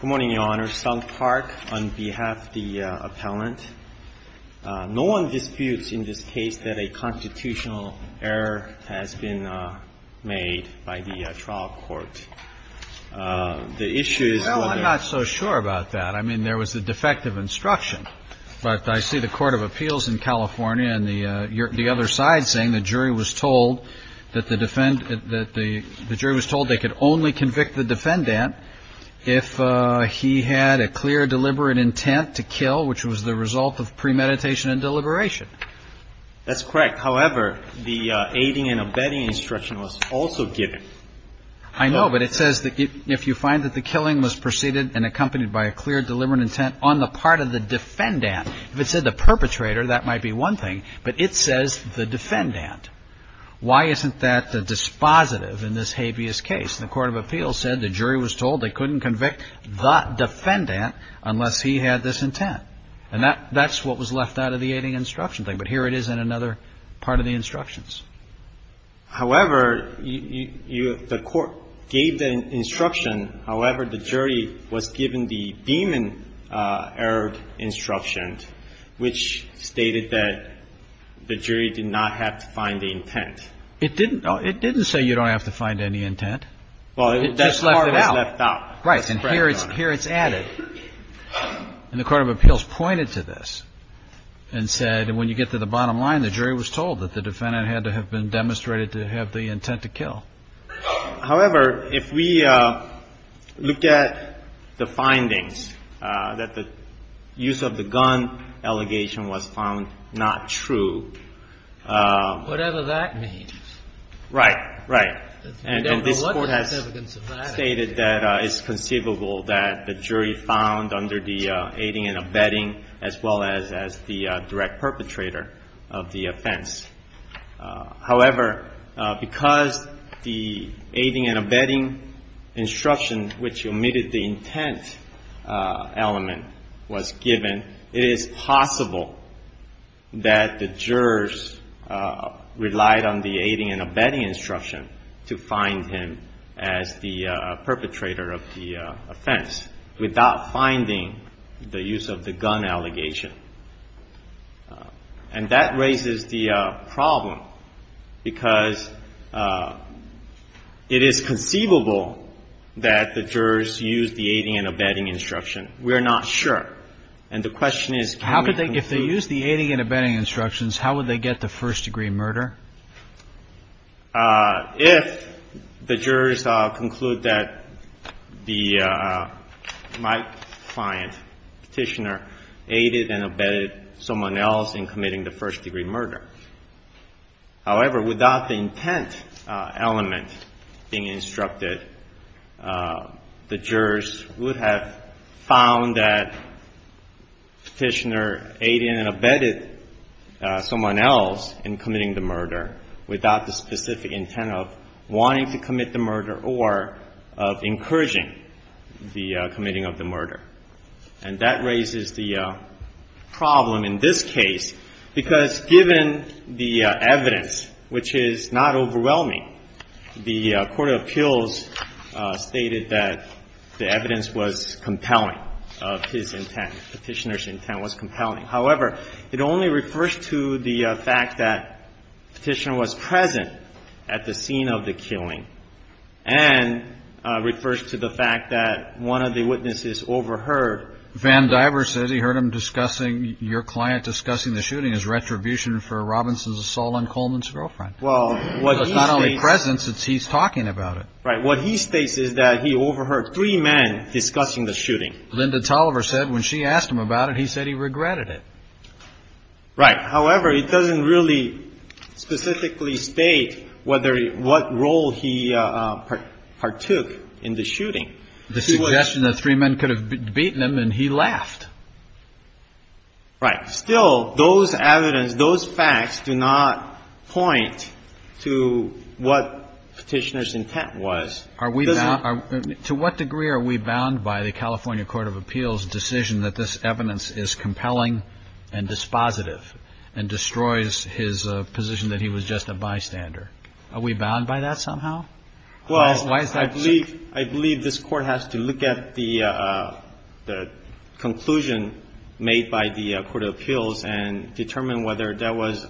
Good morning, Your Honor. Sung Park on behalf of the appellant. No one disputes in this case that a constitutional error has been made by the trial court. The issue is whether the defendant is guilty of the crime. Well, I'm not so sure about that. I mean, there was a defective instruction, but I see the Court of Appeals in California and the other side saying the jury was told that the jury was told they could only convict the defendant if he had a clear deliberate intent to kill, which was the result of premeditation and deliberation. That's correct. However, the aiding and abetting instruction was also given. I know, but it says that if you find that the killing was preceded and accompanied by a clear deliberate intent on the part of the defendant, if it said the perpetrator, that might be one thing, but it says the defendant. Why isn't that a dispositive in this habeas case? The Court of Appeals said the jury was told they couldn't convict the defendant unless he had this intent, and that's what was left out of the aiding and obstruction thing. But here it is in another part of the instructions. However, you – the Court gave the instruction, however, the jury was given the demon-errored instruction, which stated that the jury did not have to find the intent. It didn't – no, it didn't say you don't have to find any intent. Well, that's part of it was left out. Right. And here it's added. And the Court of Appeals pointed to this and said when you get to the bottom line, the jury was told that the defendant had to have been demonstrated to have the intent to kill. However, if we look at the findings, that the use of the gun allegation was found not true. Whatever that means. Right. Right. And this Court has stated that it's conceivable that the jury found under the aiding and abetting, as well as the direct perpetrator of the offense. However, because the aiding and abetting instruction, which omitted the intent element, was given, it is possible that the jurors relied on the aiding and abetting instruction to find him as the perpetrator of the offense. Without finding the use of the gun allegation. And that raises the problem because it is conceivable that the jurors used the aiding and abetting instruction. We are not sure. And the question is can we conclude. If they used the aiding and abetting instructions, how would they get to first degree murder? If the jurors conclude that the, my client, Petitioner, aided and abetted someone else in committing the first degree murder. However, without the intent element being instructed, the jurors would have found that Petitioner aided and abetted someone else in committing the murder without the specific intent of wanting to commit the murder or of encouraging the committing of the murder. And that raises the problem in this case because given the evidence, which is not overwhelming, the court of appeals stated that the evidence was compelling of his intent. However, it only refers to the fact that Petitioner was present at the scene of the killing. And refers to the fact that one of the witnesses overheard. Van Diver said he heard him discussing, your client discussing the shooting as retribution for Robinson's assault on Coleman's girlfriend. Well. It's not only presence, it's he's talking about it. Right. Linda Tolliver said when she asked him about it, he said he regretted it. Right. However, it doesn't really specifically state what role he partook in the shooting. The suggestion that three men could have beaten him and he laughed. Right. Still, those evidence, those facts do not point to what Petitioner's intent was. To what degree are we bound by the California Court of Appeals decision that this evidence is compelling and dispositive and destroys his position that he was just a bystander? Are we bound by that somehow? Well, I believe this court has to look at the conclusion made by the court of appeals and determine whether that was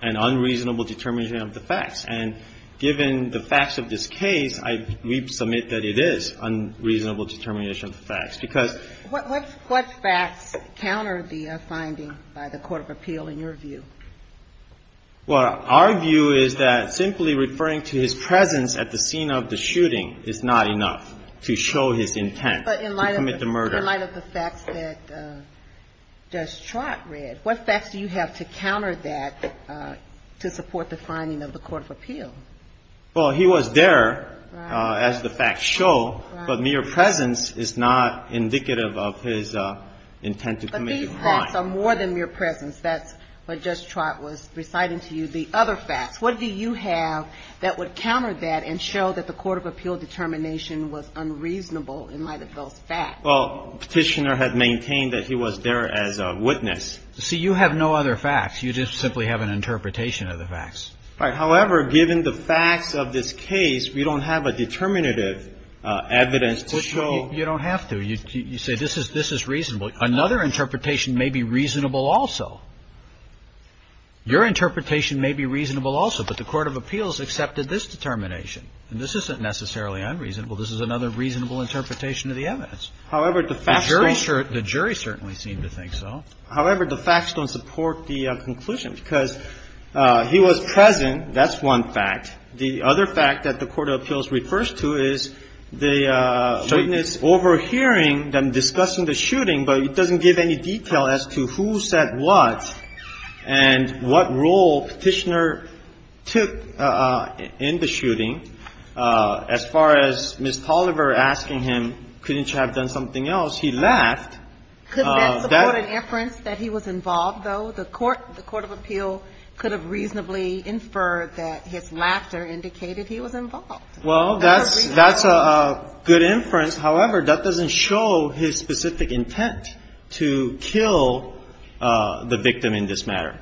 an unreasonable determination of the facts. And given the facts of this case, we submit that it is unreasonable determination of the facts because What facts counter the finding by the court of appeal in your view? Well, our view is that simply referring to his presence at the scene of the shooting is not enough to show his intent to commit the murder. But in light of the facts that Judge Trott read, what facts do you have to counter that to support the finding of the court of appeal? Well, he was there as the facts show, but mere presence is not indicative of his intent to commit the crime. But these facts are more than mere presence. That's what Judge Trott was reciting to you, the other facts. What do you have that would counter that and show that the court of appeal determination was unreasonable in light of those facts? Well, Petitioner had maintained that he was there as a witness. See, you have no other facts. You just simply have an interpretation of the facts. However, given the facts of this case, we don't have a determinative evidence to show. You don't have to. You say this is this is reasonable. Another interpretation may be reasonable also. Your interpretation may be reasonable also. But the court of appeals accepted this determination. And this isn't necessarily unreasonable. This is another reasonable interpretation of the evidence. However, the facts don't. The jury certainly seemed to think so. However, the facts don't support the conclusion because he was present. That's one fact. The other fact that the court of appeals refers to is the witness overhearing them discussing the shooting, but it doesn't give any detail as to who said what and what role Petitioner took in the shooting. As far as Ms. Tolliver asking him, couldn't you have done something else, he laughed. Could that support an inference that he was involved, though? The court of appeals could have reasonably inferred that his laughter indicated he was involved. Well, that's a good inference. However, that doesn't show his specific intent to kill the victim in this matter.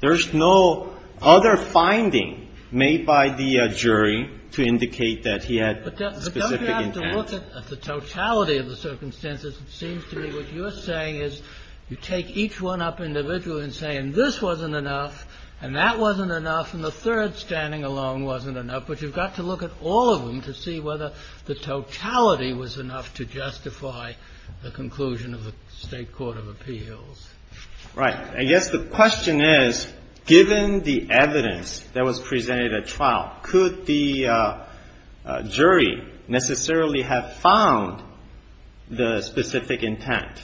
There's no other finding made by the jury to indicate that he had specific intent. But don't you have to look at the totality of the circumstances? It seems to me what you're saying is you take each one up individually and say, and this wasn't enough, and that wasn't enough, and the third standing alone wasn't enough, but you've got to look at all of them to see whether the totality was enough to justify the conclusion of the State court of appeals. Right. I guess the question is, given the evidence that was presented at trial, could the jury necessarily have found the specific intent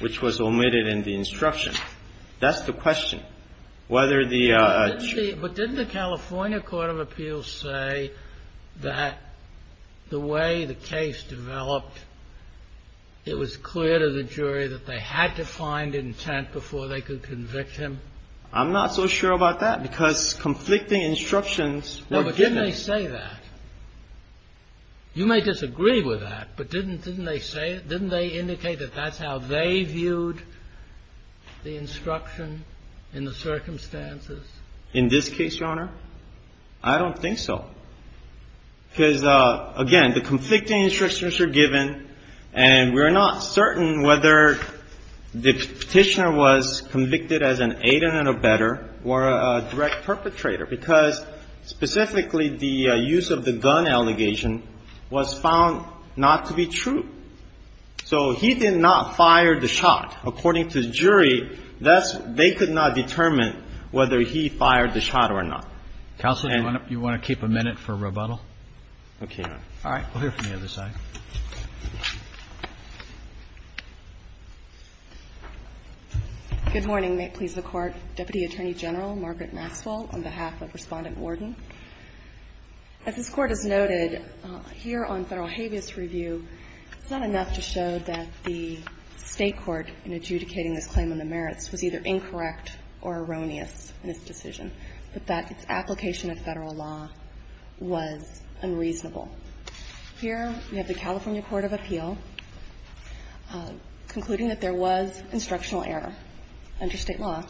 which was omitted in the instruction? That's the question. Whether the chief ---- But didn't the California court of appeals say that the way the case developed, it was clear to the jury that they had to find intent before they could convict him? I'm not so sure about that, because conflicting instructions were given. No, but didn't they say that? You may disagree with that, but didn't they say it? Didn't they indicate that that's how they viewed the instruction in the circumstances? In this case, Your Honor, I don't think so, because, again, the conflicting instructions are given, and we're not certain whether the Petitioner was convicted as an aidant and a better or a direct perpetrator, because specifically the use of the gun allegation was found not to be true. So he did not fire the shot. According to the jury, that's ---- they could not determine whether he fired the shot or not. Counsel, do you want to keep a minute for rebuttal? Okay, Your Honor. All right, we'll hear from the other side. Good morning. May it please the Court. Deputy Attorney General Margaret Maswell on behalf of Respondent Worden. As this Court has noted, here on Federal habeas review, it's not enough to show that the State court in adjudicating this claim on the merits was either incorrect or erroneous in its decision, but that its application of Federal law was unreasonable. Here we have the California court of appeal concluding that there was instructional error under State law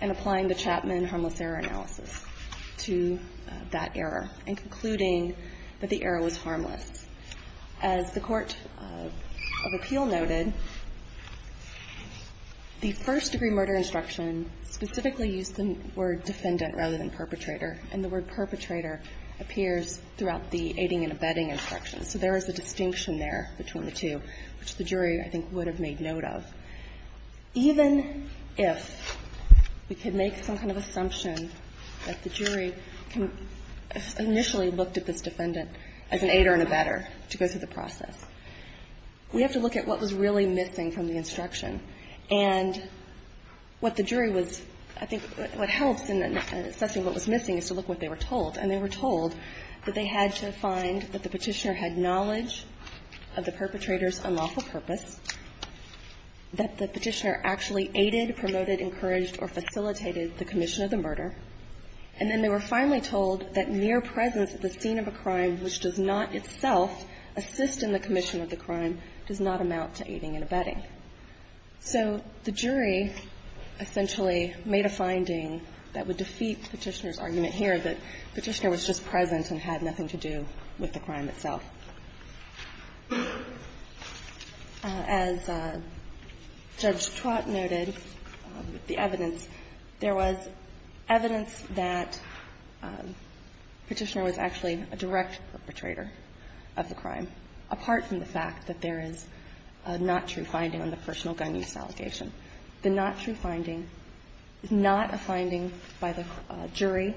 and applying the Chapman harmless error analysis to that error and concluding that the error was harmless. As the court of appeal noted, the first-degree murder instruction specifically used the word defendant rather than perpetrator, and the word perpetrator appears throughout the aiding and abetting instructions. So there is a distinction there between the two, which the jury, I think, would have made note of. Even if we could make some kind of assumption that the jury initially looked at this defendant as an aider and abetter to go through the process, we have to look at what was really missing from the instruction. And what the jury was ---- I think what helps in assessing what was missing is to look at what they were told. And they were told that they had to find that the Petitioner had knowledge of the perpetrator's unlawful purpose, that the Petitioner actually aided, promoted, encouraged, or facilitated the commission of the murder, and then they were finally told that mere presence at the scene of a crime which does not itself assist in the commission of the crime does not amount to aiding and abetting. So the jury essentially made a finding that would defeat Petitioner's argument here, that Petitioner was just present and had nothing to do with the crime itself. As Judge Trott noted, the evidence, there was evidence that Petitioner was actually a direct perpetrator of the crime, apart from the fact that there is not true finding on the personal gun use allegation. The not true finding is not a finding by the jury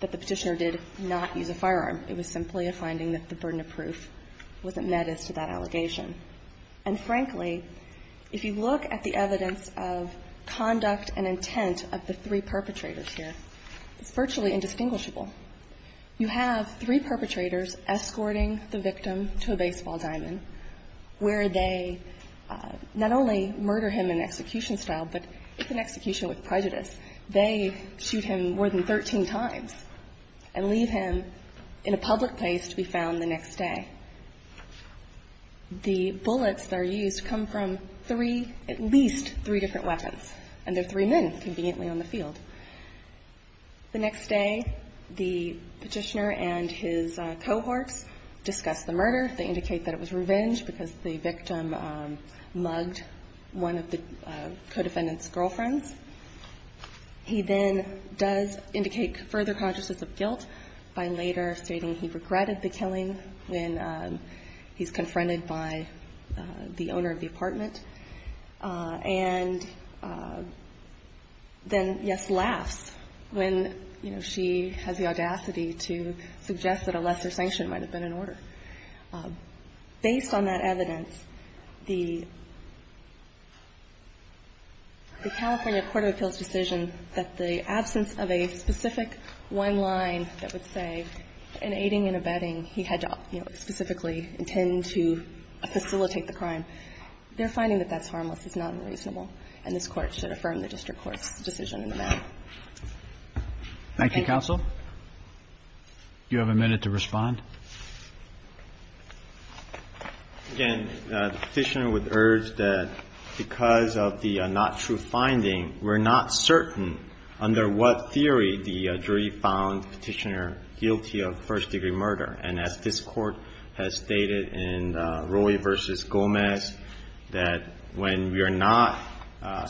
that the Petitioner did not use a firearm. It was simply a finding that the burden of proof wasn't met as to that allegation. And frankly, if you look at the evidence of conduct and intent of the three perpetrators here, it's virtually indistinguishable. You have three perpetrators escorting the victim to a baseball diamond where they not only murder him in execution style, but in execution with prejudice, they shoot him more than 13 times and leave him in a public place to be found the next day. The bullets that are used come from three, at least three different weapons, and they're three men conveniently on the field. The next day, the Petitioner and his cohorts discuss the murder. They indicate that it was revenge because the victim mugged one of the co-defendant's girlfriends. He then does indicate further consciousness of guilt by later stating he regretted the killing when he's confronted by the owner of the apartment. And then, yes, laughs when, you know, she has the audacity to suggest that a lesser the California Court of Appeals decision that the absence of a specific one line that would say in aiding and abetting, he had to, you know, specifically intend to facilitate the crime. They're finding that that's harmless. It's not unreasonable. And this Court should affirm the district court's decision in the matter. Thank you. Roberts. Do you have a minute to respond? Again, the Petitioner would urge that because of the not true finding, we're not certain under what theory the jury found Petitioner guilty of first degree murder. And as this Court has stated in Roy v. Gomez, that when we are not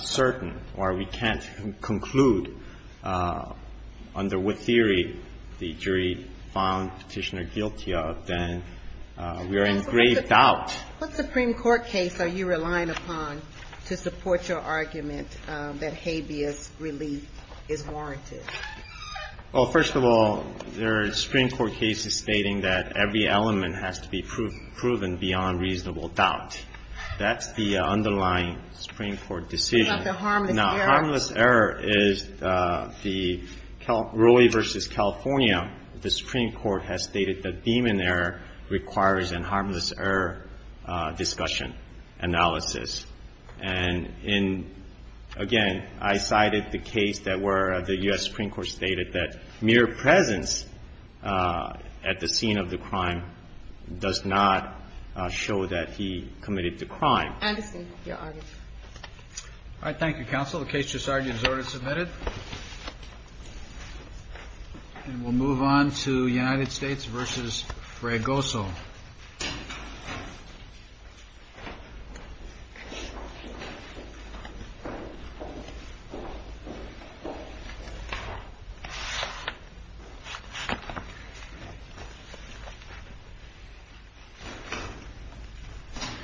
certain or we can't conclude under what theory the jury found Petitioner guilty of first degree murder, then we are in grave doubt. What Supreme Court case are you relying upon to support your argument that habeas relief is warranted? Well, first of all, there are Supreme Court cases stating that every element has to be proven beyond reasonable doubt. That's the underlying Supreme Court decision. What about the harmless error? The harmless error is the Roy v. California. The Supreme Court has stated that demon error requires an harmless error discussion analysis. And in, again, I cited the case that where the U.S. Supreme Court stated that mere presence at the scene of the crime does not show that he committed the crime. Anderson, your argument. All right. Thank you, Counsel. The case has already been submitted. And we'll move on to United States v. Fragoso.